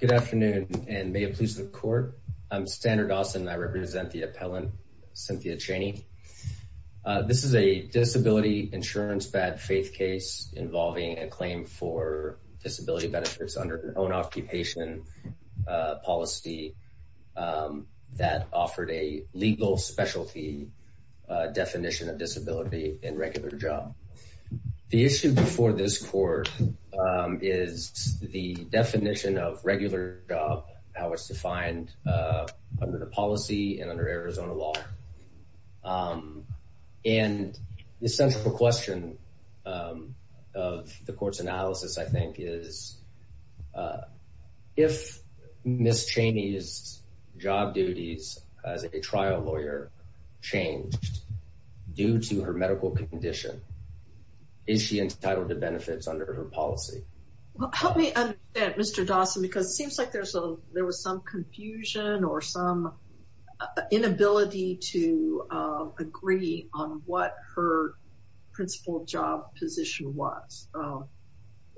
Good afternoon and may it please the court. I'm Stanard Dawson and I represent the appellant Cynthia Cheney. This is a disability insurance bad-faith case involving a claim for disability benefits under their own occupation policy that offered a legal specialty definition of disability in regular job. The issue before this court is the definition of regular job, how it's defined under the policy and under Arizona law. And the central question of the court's analysis I think is if Ms. Cheney's job duties as a trial lawyer changed due to her medical condition, is she entitled to benefits under her policy? Help me understand Mr. Dawson because it seems like there's a there was some confusion or some inability to agree on what her principal job position was.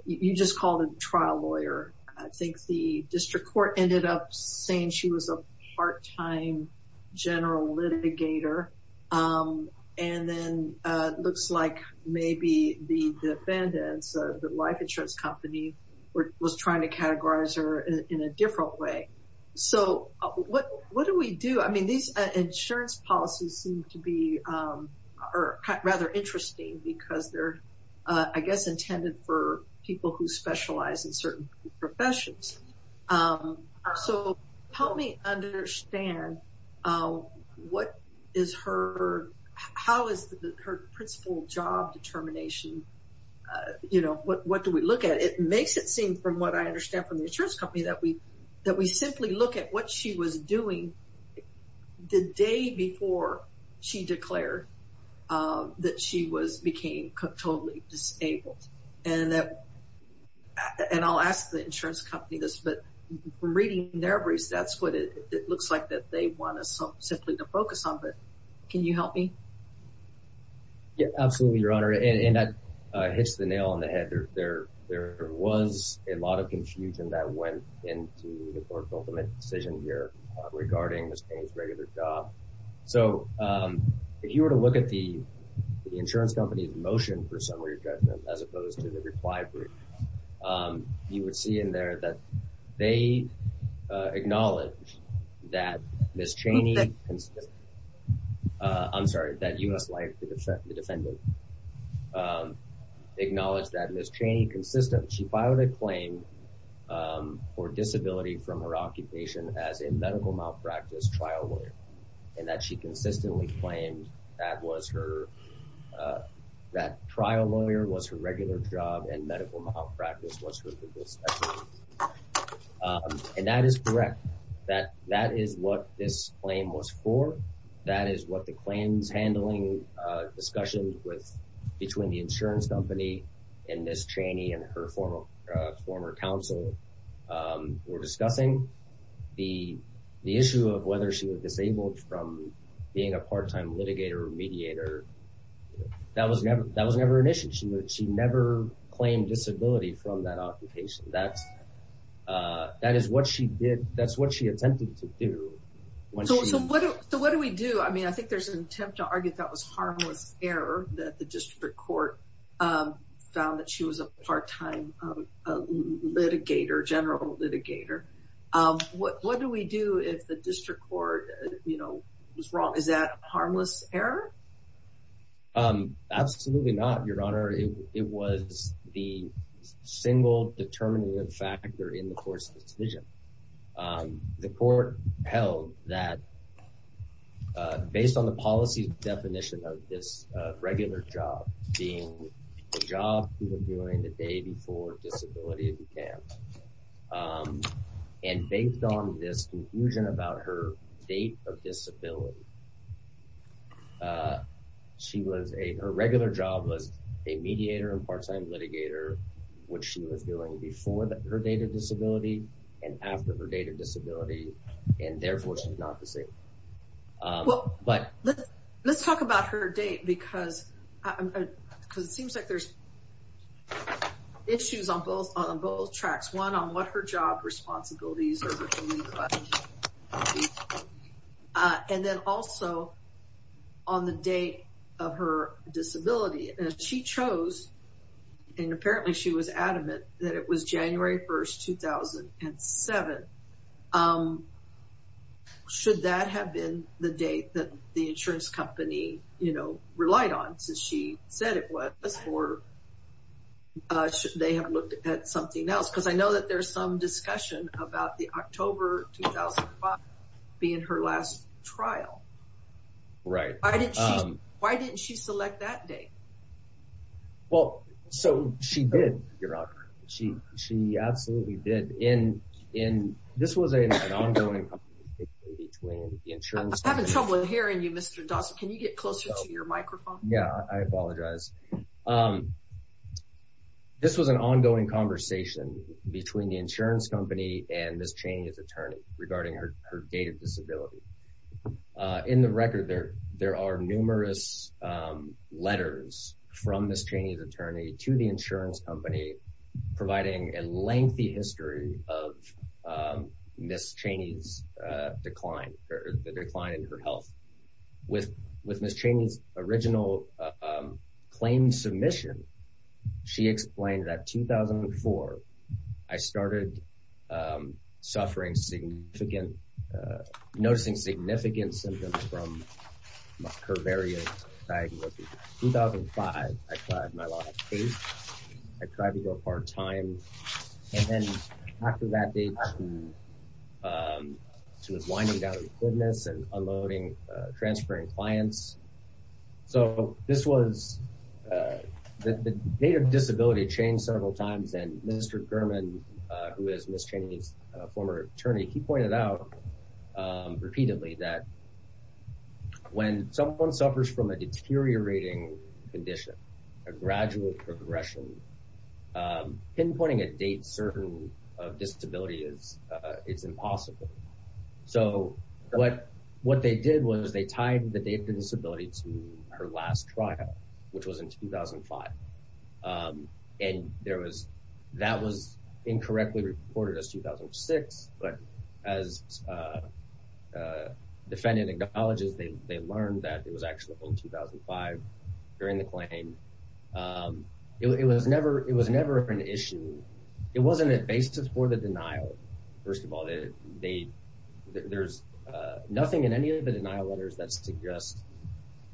You just called a trial lawyer. I think the district court ended up saying she was a part-time general litigator. And then it looks like maybe the defendants, the life insurance company, was trying to categorize her in a different way. So what what do we do? I mean these insurance policies seem to be rather interesting because they're I guess intended for people who are disabled. So help me understand what is her how is her principal job determination? You know what what do we look at? It makes it seem from what I understand from the insurance company that we that we simply look at what she was doing the day before she declared that she was became totally disabled. And that and I'll ask the insurance company this but from reading their briefs that's what it looks like that they want us simply to focus on. But can you help me? Yeah absolutely your honor and that hits the nail on the head. There there was a lot of confusion that went into the court's ultimate decision here regarding Ms. Payne's regular job. So if you were to look at the insurance company's motion for summary judgment as opposed to the reply brief, you would see in there that they acknowledged that Ms. Cheney, I'm sorry that US Life, the defendant, acknowledged that Ms. Cheney consistently she filed a claim for disability from her occupation as a medical malpractice trial lawyer. And that she consistently claimed that was her that trial lawyer was her regular job and medical malpractice was her. And that is correct that that is what this claim was for. That is what the claims handling discussion with between the insurance company and Ms. Cheney and her former former counsel were discussing. The the issue of whether she was disabled from being a part-time litigator or mediator that was never that was never an issue. She never claimed disability from that occupation. That's that is what she did that's what she attempted to do. So what do we do I mean I think there's an attempt to argue that was harmless error that the district court found that she was a part-time litigator general litigator. What do we do if the district court you Absolutely not, Your Honor. It was the single determinative factor in the court's decision. The court held that based on the policy definition of this regular job being the job you were doing the day before disability began. And based on this conclusion about her date of disability she was a her regular job was a mediator and part-time litigator which she was doing before that her date of disability and after her date of disability and therefore she's not disabled. But let's talk about her date because it seems like there's issues on both tracks. One on what her job responsibilities are and then also on the date of her disability. She chose and apparently she was adamant that it was January 1st 2007. Should that have been the date that the insurance company you said it was or should they have looked at something else because I know that there's some discussion about the October 2005 being her last trial. Right. Why didn't she select that day? Well so she did, Your Honor. She absolutely did. And this was an ongoing between the insurance company. I'm having trouble hearing you Mr. Dawson. Can you get closer to your microphone? Yeah I apologize. This was an ongoing conversation between the insurance company and Ms. Chaney's attorney regarding her date of disability. In the record there there are numerous letters from Ms. Chaney's attorney to the insurance company providing a lengthy history of Ms. Chaney's decline or the decline in her health. With with Ms. Chaney's original claim submission she explained that 2004 I started suffering significant noticing significant symptoms from her various diagnoses. In 2005 I tried my last case. I tried to go part-time and then after that date she was winding down the goodness and unloading transferring clients. So this was the date of disability changed several times and Mr. German who is Ms. Chaney's former attorney he pointed out repeatedly that when someone suffers from a deteriorating condition a gradual progression pinpointing a date certain of disability is it's impossible. So what what they did was they tied the date of disability to her last trial which was in 2005 and there was that was incorrectly reported as 2006 but as defendant acknowledges they learned that it was actually in 2005 during the claim. It was never it was never an issue it wasn't a basis for the denial. First of all they there's nothing in any of the denial letters that suggests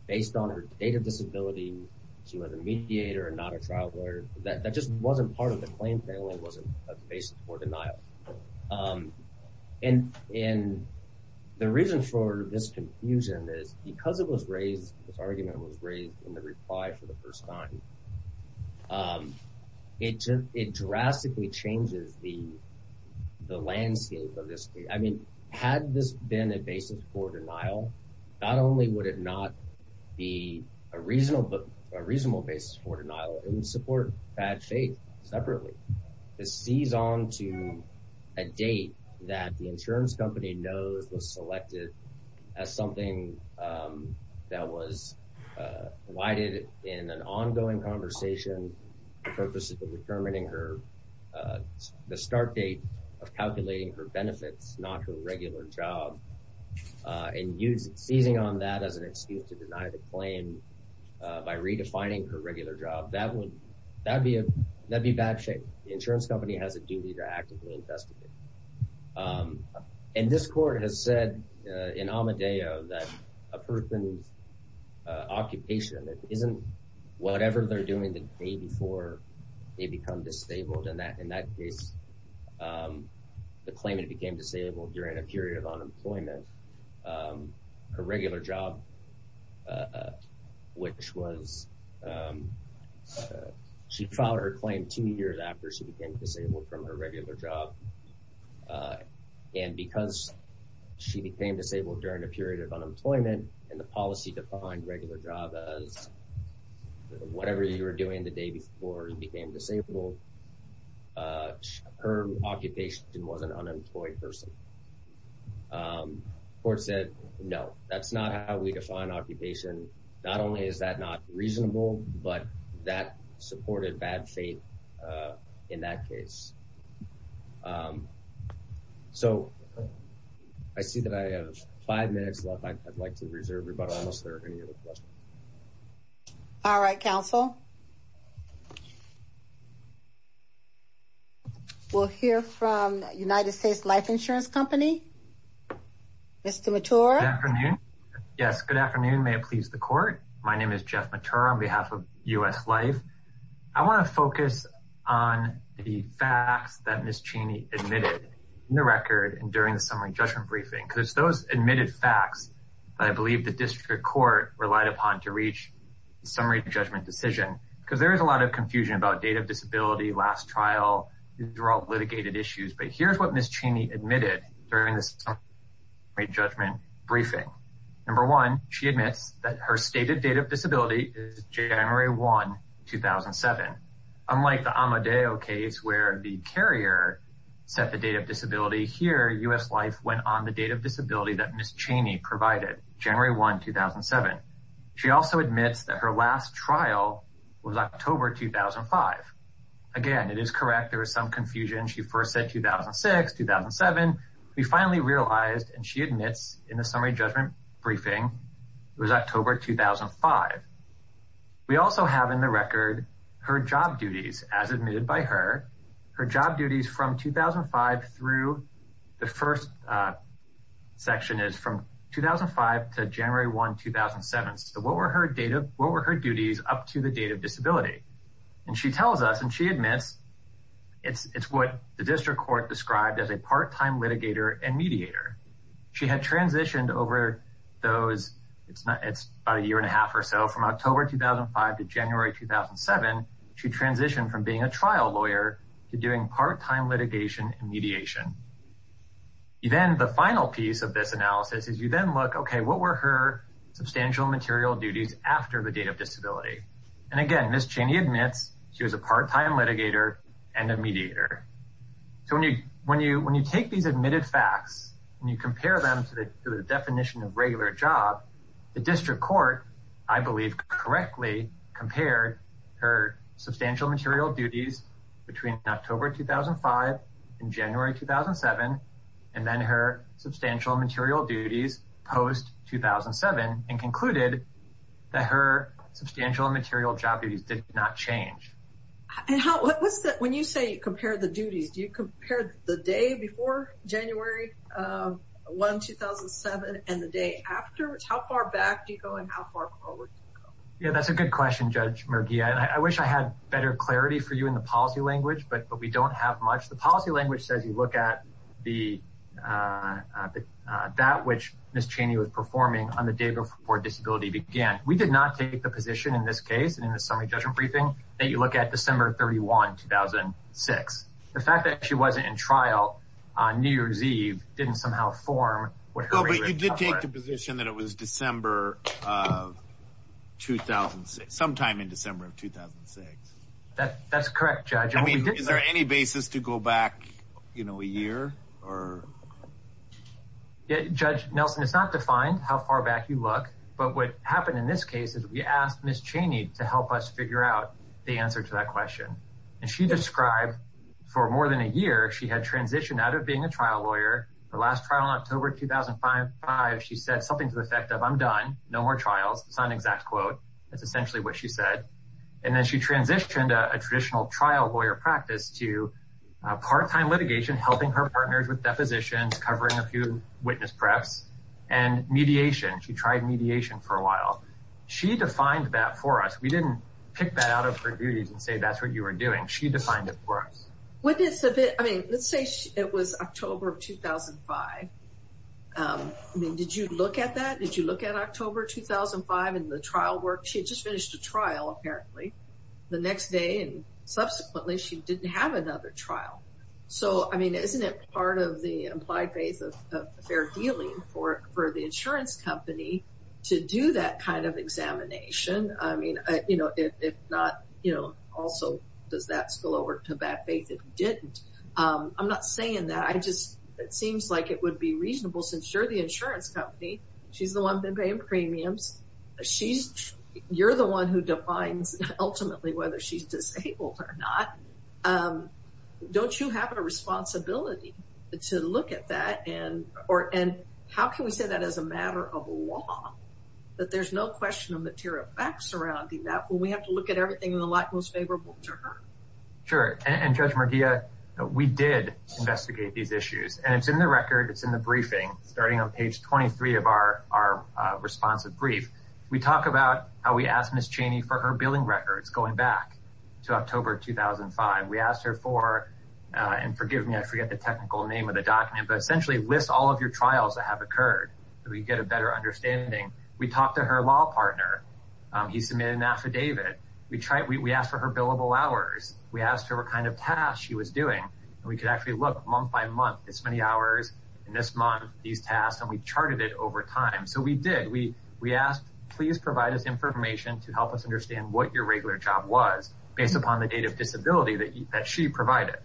based on her date of disability she was a mediator and not a trial lawyer that that just wasn't part of the claim family wasn't a basis for denial. And and the reason for this confusion is because it was raised as argument was raised in the reply for the first time. It drastically changes the the landscape of this. I mean had this been a basis for denial not only would it not be a reasonable but a reasonable basis for denial it would support bad faith separately. It sees on to a date that the insurance company knows was selected as something that was why did it in an ongoing conversation purposes of determining her the start date of calculating her benefits not her regular job and use it seizing on that as an excuse to deny the claim by redefining her regular job that would that be a that'd be bad shape the This court has said in Amadeo that a person's occupation that isn't whatever they're doing the day before they become disabled and that in that case the claimant became disabled during a period of unemployment her regular job which was she filed her claim two years after she became disabled from her regular job and because she became disabled during a period of unemployment and the policy defined regular job as whatever you were doing the day before and became disabled her occupation was an unemployed person. Court said no that's not how we define occupation not only is that not reasonable but that supported bad faith in that case so I see that I have five minutes left I'd like to reserve everybody unless there are any other questions. All right counsel we'll hear from United States Life Insurance Company Mr. Mathura. Good afternoon yes good afternoon may it please the court my name is Jeff Mathura on behalf of US Life I want to focus on the facts that Ms. Cheney admitted in the record and during the summary judgment briefing because those admitted facts I believe the district court relied upon to reach summary judgment decision because there is a lot of confusion about date of disability last trial these are all litigated issues but here's what Ms. Cheney admitted during the summary judgment briefing number one she admits that her stated date of disability is 2007 unlike the Amadeo case where the carrier set the date of disability here US Life went on the date of disability that Ms. Cheney provided January 1 2007 she also admits that her last trial was October 2005 again it is correct there was some confusion she first said 2006 2007 we finally realized and she admits in the summary judgment briefing it was October 2005 we also have in the record her job duties as admitted by her her job duties from 2005 through the first section is from 2005 to January 1 2007 so what were her data what were her duties up to the date of disability and she tells us and she admits it's it's what the district court described as a part-time litigator and mediator she had transitioned over those it's not it's a year and a half or so from October 2005 to January 2007 she transitioned from being a trial lawyer to doing part-time litigation and mediation you then the final piece of this analysis is you then look okay what were her substantial material duties after the date of disability and again Ms. Cheney admits she was a part-time litigator and a mediator so when you when you when you take these admitted facts and you compare them to the definition of regular job the district court I believe correctly compared her substantial material duties between October 2005 in January 2007 and then her substantial material duties post 2007 and concluded that her substantial material job duties did not change and how what's that when you say you compare the duties do you compare the day before January 1 2007 and the day after it's how far back do you go and how far forward yeah that's a good question judge Murgi I wish I had better clarity for you in the policy language but but we don't have much the policy language says you look at the that which miss Cheney was performing on the day before disability began we did not take the position in this case and in the summary judgment briefing that you look at December 31 2006 the fact that she wasn't in trial on New Year's Eve didn't somehow form what you did take the position that it was December 2006 sometime in December of 2006 that that's correct judge I mean is there any basis to go back you know a year or judge Nelson it's not defined how far back you look but what happened in this case is we asked miss Cheney to help us figure out the answer to that question and she described for more than a year she had transitioned out of being a trial lawyer the last trial in October 2005 she said something to the effect of I'm done no more trials it's not an exact quote that's essentially what she said and then she transitioned a traditional trial lawyer practice to part-time litigation helping her partners with depositions covering a few witness preps and mediation she tried mediation for a while she defined that for us we didn't pick that out of her duties and say that's what you were doing she defined it for us with this a bit I mean let's say it was October of 2005 I mean did you look at that did you look at October 2005 and the trial work she just finished a trial apparently the next day and subsequently she didn't have another trial so I mean isn't it of the implied faith of fair dealing for for the insurance company to do that kind of examination I mean you know if not you know also does that spill over to bad faith if you didn't I'm not saying that I just it seems like it would be reasonable since you're the insurance company she's the one been paying premiums she's you're the one who defines ultimately whether she's disabled or not don't you have a responsibility to look at that and or and how can we say that as a matter of law that there's no question of material facts surrounding that when we have to look at everything in the light most favorable to her sure and judge Maria we did investigate these issues and it's in the record it's in the briefing starting on page 23 of our our responsive brief we talked about how we asked miss Cheney for her billing records going back to October 2005 we asked her for and forgive me I forget the technical name of the document but essentially list all of your trials that have occurred we get a better understanding we talked to her law partner he submitted an affidavit we tried we asked for her billable hours we asked her what kind of tasks she was doing we could actually look month by month this many hours in this month these tasks and we charted it over time so we did we we asked please provide us information to help us understand what your regular job was based upon the date of disability that she provided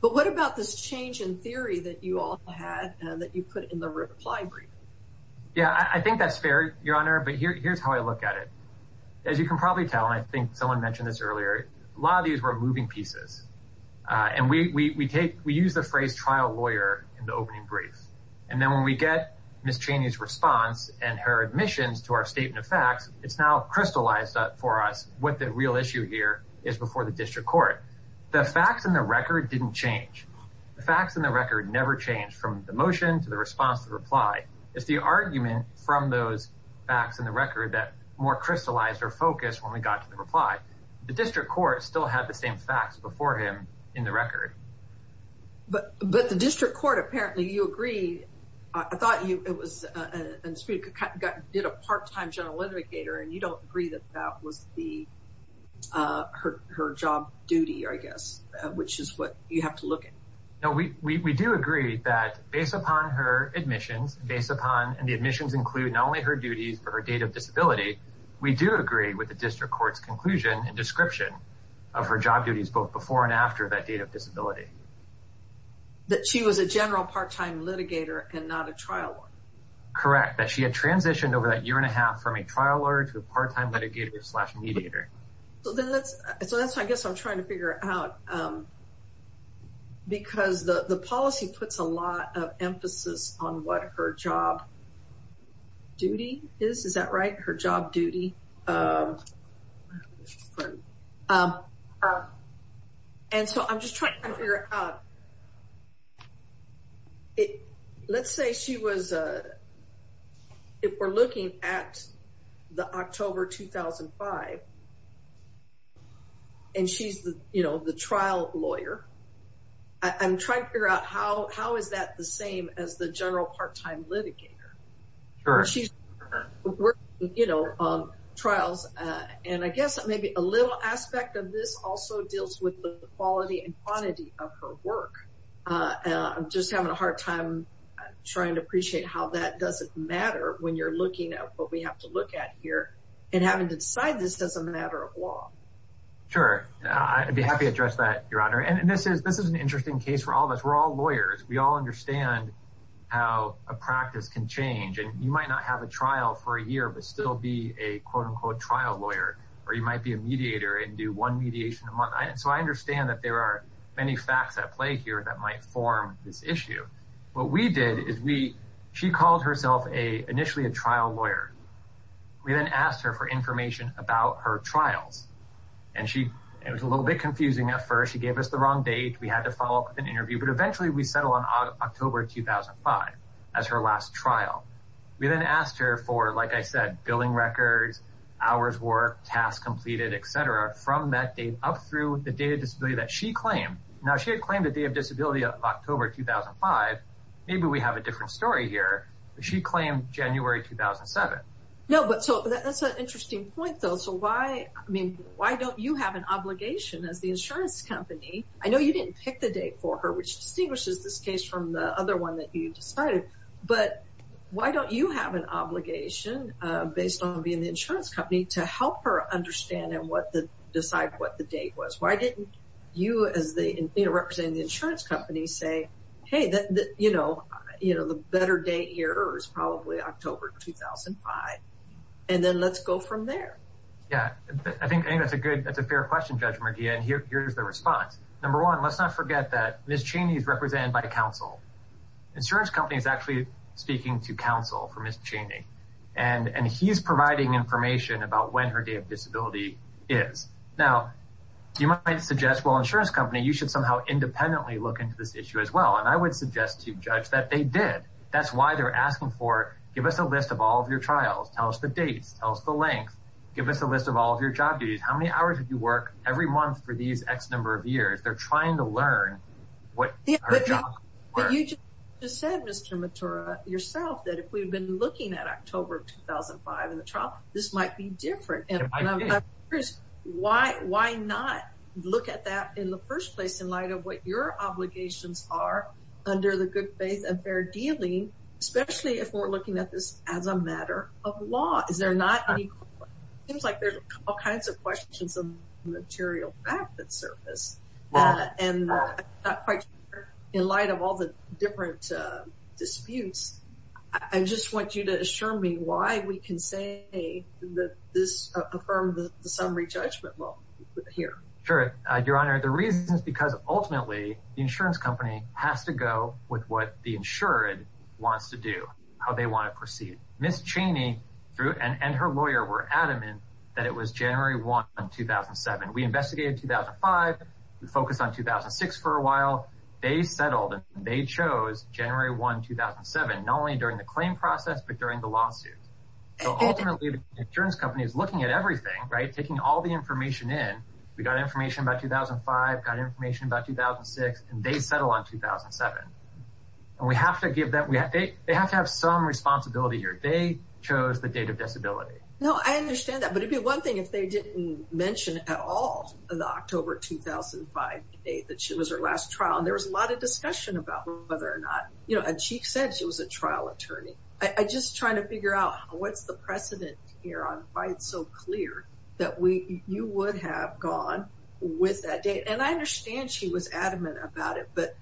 but what about this change in theory that you all had that you put in the reply brief yeah I think that's fair your honor but here here's how I look at it as you can probably tell and I think someone mentioned this earlier a lot of these were moving pieces and we take we use the phrase trial lawyer in the opening brief and then when we get miss Cheney's response and her admissions to our statement of facts it's now crystallized up for us what the real issue here is before the district court the facts in the record didn't change the facts in the record never changed from the motion to the response to reply it's the argument from those facts in the record that more crystallized or focus when we got to the reply the district court still had the same facts before him in the record but but the district court apparently you agree I thought you it was a part-time general litigator and you don't agree that that was the her job duty I guess which is what you have to look at no we do agree that based upon her admissions based upon and the admissions include not only her duties for her date of disability we do agree with the district courts conclusion and description of her job duties both and after that date of disability that she was a general part-time litigator and not a trial correct that she had transitioned over that year and a half from a trial lawyer to a part-time litigator slash mediator so then that's so that's I guess I'm trying to figure out because the the policy puts a lot of and so I'm just trying to figure out it let's say she was if we're looking at the October 2005 and she's the you know the trial lawyer I'm trying to figure out how how is that the same as the general part-time litigator or she's working you know on trials and I guess maybe a little aspect of this also deals with the quality and quantity of her work I'm just having a hard time trying to appreciate how that doesn't matter when you're looking at what we have to look at here and having to decide this as a matter of law sure I'd be happy address that your honor and this is this is an interesting case for all of us we're all lawyers we all understand how a practice can change and you might not have a trial for a year but still be a quote-unquote trial lawyer or you might be a mediator and do one mediation and so I understand that there are many facts at play here that might form this issue what we did is we she called herself a initially a trial lawyer we then asked her for information about her trials and she it was a little bit confusing at first she gave us the wrong date we had to follow up with an interview but eventually we settle on October 2005 as her last trial we then asked her for like I said billing records hours work tasks completed etc from that date up through the data disability that she claimed now she had claimed a day of disability of October 2005 maybe we have a different story here she claimed January 2007 no but so that's an interesting point though so why I mean why don't you have an obligation as the insurance company I know you didn't pick the date for her which distinguishes this case from the other one that you decided but why don't you have an obligation based on being the insurance company to help her understand and what the decide what the date was why didn't you as the representing the insurance company say hey that you know you know the better date here is probably October 2005 and then let's go from there yeah I think that's a good that's a fair question judge Mardia and here's the response number one let's not forget that miss Cheney is represented by counsel insurance company is actually speaking to counsel for miss Cheney and and he's providing information about when her day of disability is now you might suggest well insurance company you should somehow independently look into this issue as well and I would suggest to judge that they did that's why they're asking for give us a list of all of your trials tell us the dates tell us the length give us a list of all of your job duties how many hours did you work every month for these X number of years they're trying to learn what you just said mr. mature yourself that if we've been looking at October 2005 in the trial this might be different and I'm curious why why not look at that in the first place in light of what your obligations are under the good faith and fair dealing especially if we're looking at this as a matter of law is there not seems like there's all kinds of questions of material back that surface and in light of all the different disputes I just want you to assure me why we can say that this affirmed the summary judgment well here sure your honor the reasons because ultimately the insurance company has to go with what the insured wants to do how they want to proceed miss Cheney through and and her lawyer were adamant that it was January 1 2007 we investigated 2005 we focus on 2006 for a while they settled and they chose January 1 2007 not only during the claim process but during the lawsuit so ultimately the insurance company is looking at everything right taking all the information in we got information about 2005 got information about 2006 and they settle on 2007 and we have to give that we have to they have to have some responsibility here they chose the date of disability no I understand that but it'd be one thing if they didn't mention at all the October 2005 date that she was her last trial and there was a lot of discussion about whether or not you know and she said she was a trial attorney I just trying to figure out what's the precedent here on why it's so clear that we you would have gone with that date and I understand she was adamant about it but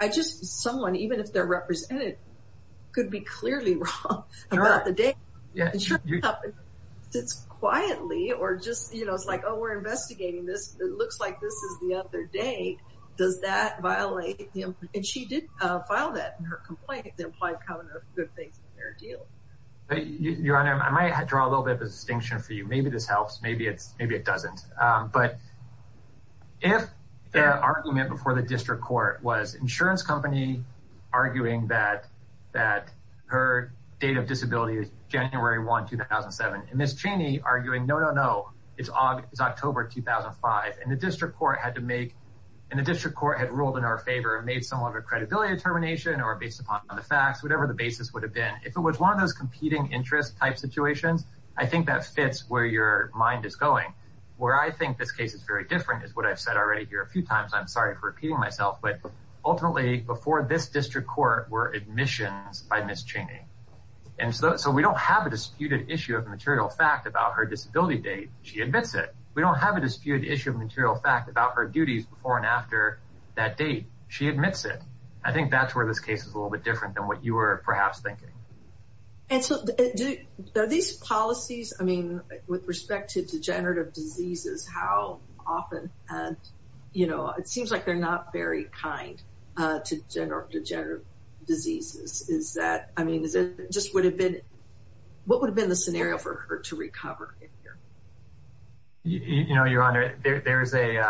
I just someone even if they're represented could be about the date yeah it's quietly or just you know it's like oh we're investigating this it looks like this is the other day does that violate him and she did file that in her complaint they're probably coming up good things in their deal your honor I might draw a little bit of a distinction for you maybe this helps maybe it's maybe it doesn't but if the argument before the date of disability is January 1 2007 and miss Cheney arguing no no it's on it's October 2005 and the district court had to make and the district court had ruled in our favor and made some other credibility determination or based upon the facts whatever the basis would have been if it was one of those competing interest type situations I think that fits where your mind is going where I think this case is very different is what I've said already here a few times I'm sorry for repeating myself but ultimately before this district court were admissions by miss Cheney and so we don't have a disputed issue of material fact about her disability date she admits it we don't have a disputed issue of material fact about her duties before and after that date she admits it I think that's where this case is a little bit different than what you were perhaps thinking and so these policies I mean with respect to degenerative diseases how often and you know it seems like they're not very kind to general diseases is that I mean is it just would have been what would have been the scenario for her to recover you know your honor there's a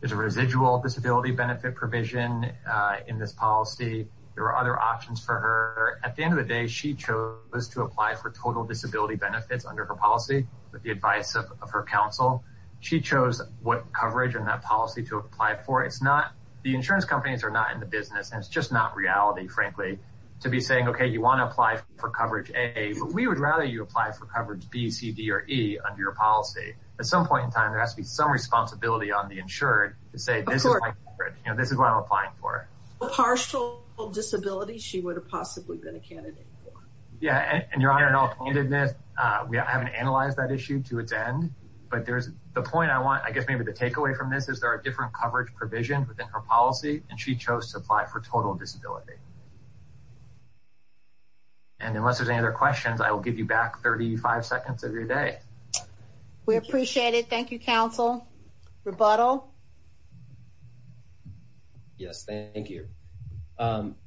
there's a residual disability benefit provision in this policy there are other options for her at the end of the day she chose to apply for total disability benefits under her policy with the advice of her counsel she chose what coverage and that policy to apply for it's not the insurance companies are not in the business and it's just not reality frankly to be saying okay you want to apply for coverage a but we would rather you apply for coverage BCD or E under your policy at some point in time there has to be some responsibility on the insured to say this is what I'm applying for a partial disability she would have possibly been a candidate yeah and your honor and all candidness we haven't analyzed that issue to its end but there's the point I want I guess maybe the takeaway from this is there are different coverage provision within her policy and she chose to apply for total disability and unless there's any other questions I will give you back 35 seconds of your day we appreciate it thank you counsel rebuttal yes thank you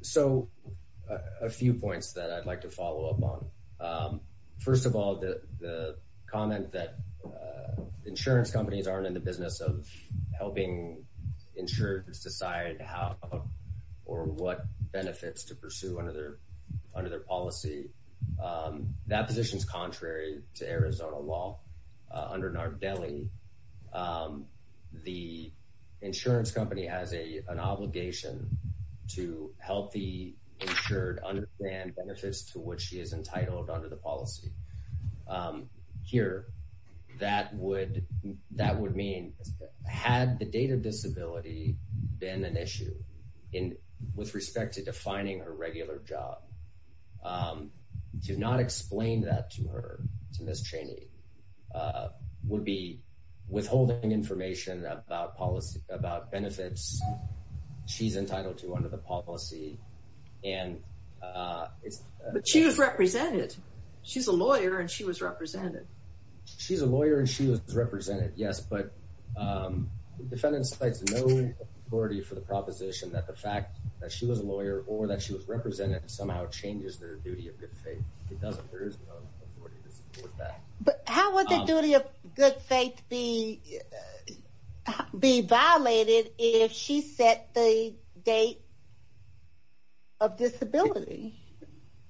so a few points that I'd like to follow up on first of all the comment that insurance companies aren't in the business of helping insurers decide how or what benefits to pursue under their under their policy that position is contrary to Arizona law under Nardelli the insurance company has a an obligation to help the insured understand benefits to which she is entitled under the policy here that would that would mean had the date of disability been an issue in with respect to defining her regular job do not explain that to her to miss Cheney would be withholding information about policy about benefits she's entitled to under the policy and but she was represented she's a lawyer and she was represented she's a lawyer and she was represented yes but defendants place no authority for the proposition that the fact that she was a lawyer or that she was represented somehow changes their duty of good faith but how would the duty of good faith be be violated if she set the date of disability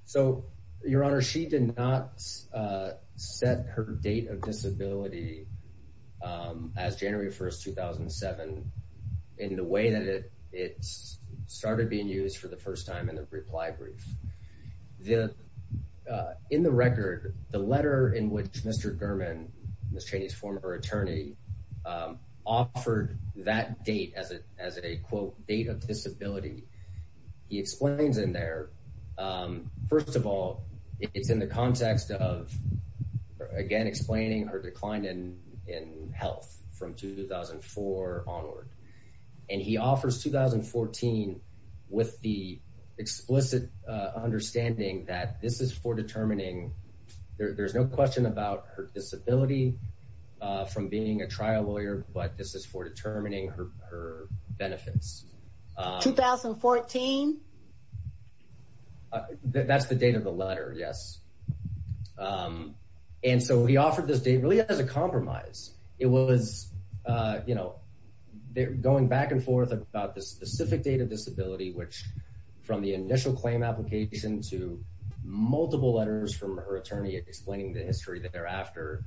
so your honor she did not set her date of disability as January 1st 2007 in the way that it it started being used for the first time in the reply brief the in the record the letter in which mr. German miss Cheney's former attorney offered that date as it as a quote date of disability he explains in there first of all it's in the context again explaining her decline in in health from 2004 onward and he offers 2014 with the explicit understanding that this is for determining there's no question about her disability from being a trial lawyer but this is for and so he offered this date really as a compromise it was you know they're going back and forth about the specific date of disability which from the initial claim application to multiple letters from her attorney explaining the history that thereafter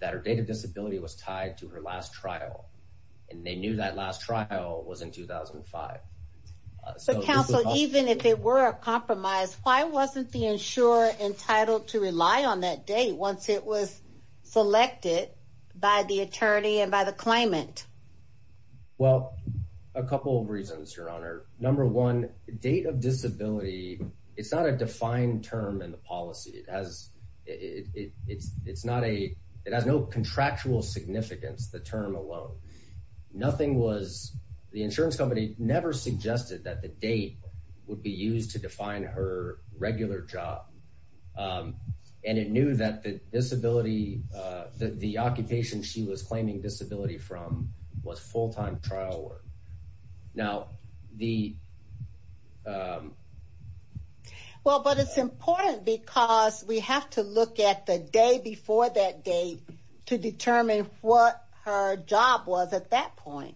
that her date of disability was tied to her last trial and they knew that last trial was in 2005 so counsel even if it were a rely on that day once it was selected by the attorney and by the claimant well a couple of reasons your honor number one date of disability it's not a defined term in the policy it has it's it's not a it has no contractual significance the term alone nothing was the insurance company never suggested that the date would be used to define her regular job and it knew that the disability that the occupation she was claiming disability from was full-time trial work now the well but it's important because we have to look at the day before that date to determine what her job was at that point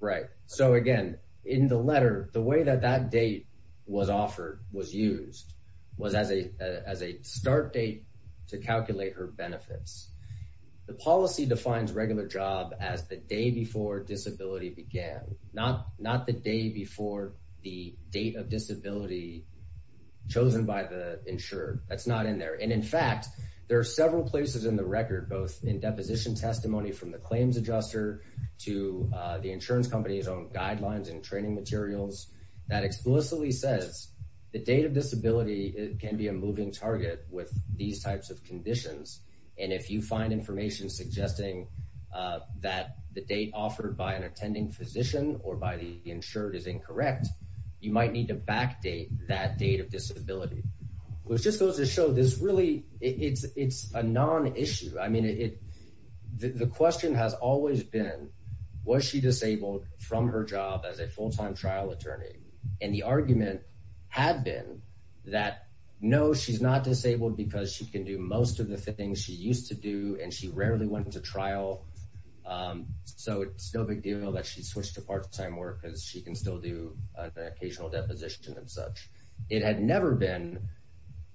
right so again in the letter the way that that date was offered was used was as a as a start date to calculate her benefits the policy defines regular job as the day before disability began not not the day before the date of disability chosen by the insured that's not in there and in fact there are several places in the record both in deposition testimony from the claims adjuster to the insurance company's own that explicitly says the date of disability can be a moving target with these types of conditions and if you find information suggesting that the date offered by an attending physician or by the insured is incorrect you might need to backdate that date of disability which just goes to show this really it's it's a non-issue I mean it the question has always been was she disabled from her job as a full-time trial attorney and the argument had been that no she's not disabled because she can do most of the things she used to do and she rarely went into trial so it's no big deal that she switched to part-time work as she can still do the occasional deposition and such it had never been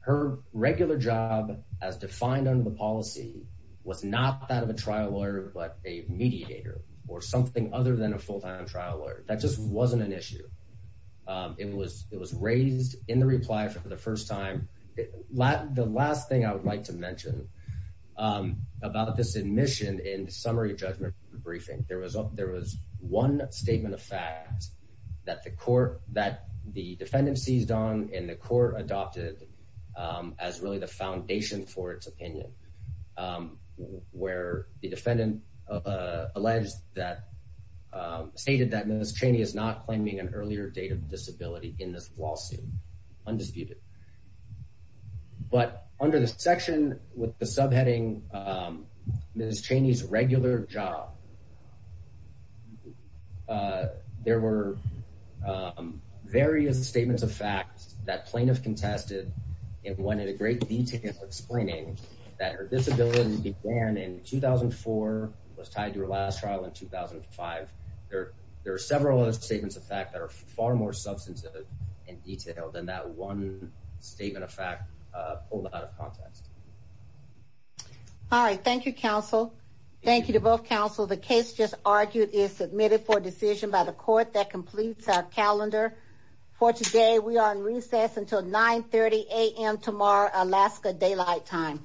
her regular job as defined under the policy was not that of a trial lawyer but a mediator or something other than a full-time trial lawyer that just wasn't an issue it was it was raised in the reply for the first time Latin the last thing I would like to mention about this admission in summary judgment briefing there was up there was one statement of facts that the court that the defendant seized on in the court adopted as really the foundation for its opinion where the stated that miss Cheney is not claiming an earlier date of disability in this lawsuit undisputed but under the section with the subheading miss Cheney's regular job there were various statements of facts that plaintiff contested and one in a great detail explaining that her disability began in 2004 was tied to her trial in 2005 there there are several other statements of fact that are far more substantive and detailed than that one statement of fact all right thank you counsel thank you to both counsel the case just argued is submitted for a decision by the court that completes our calendar for today we are in recess until 930 a.m. tomorrow Alaska daylight time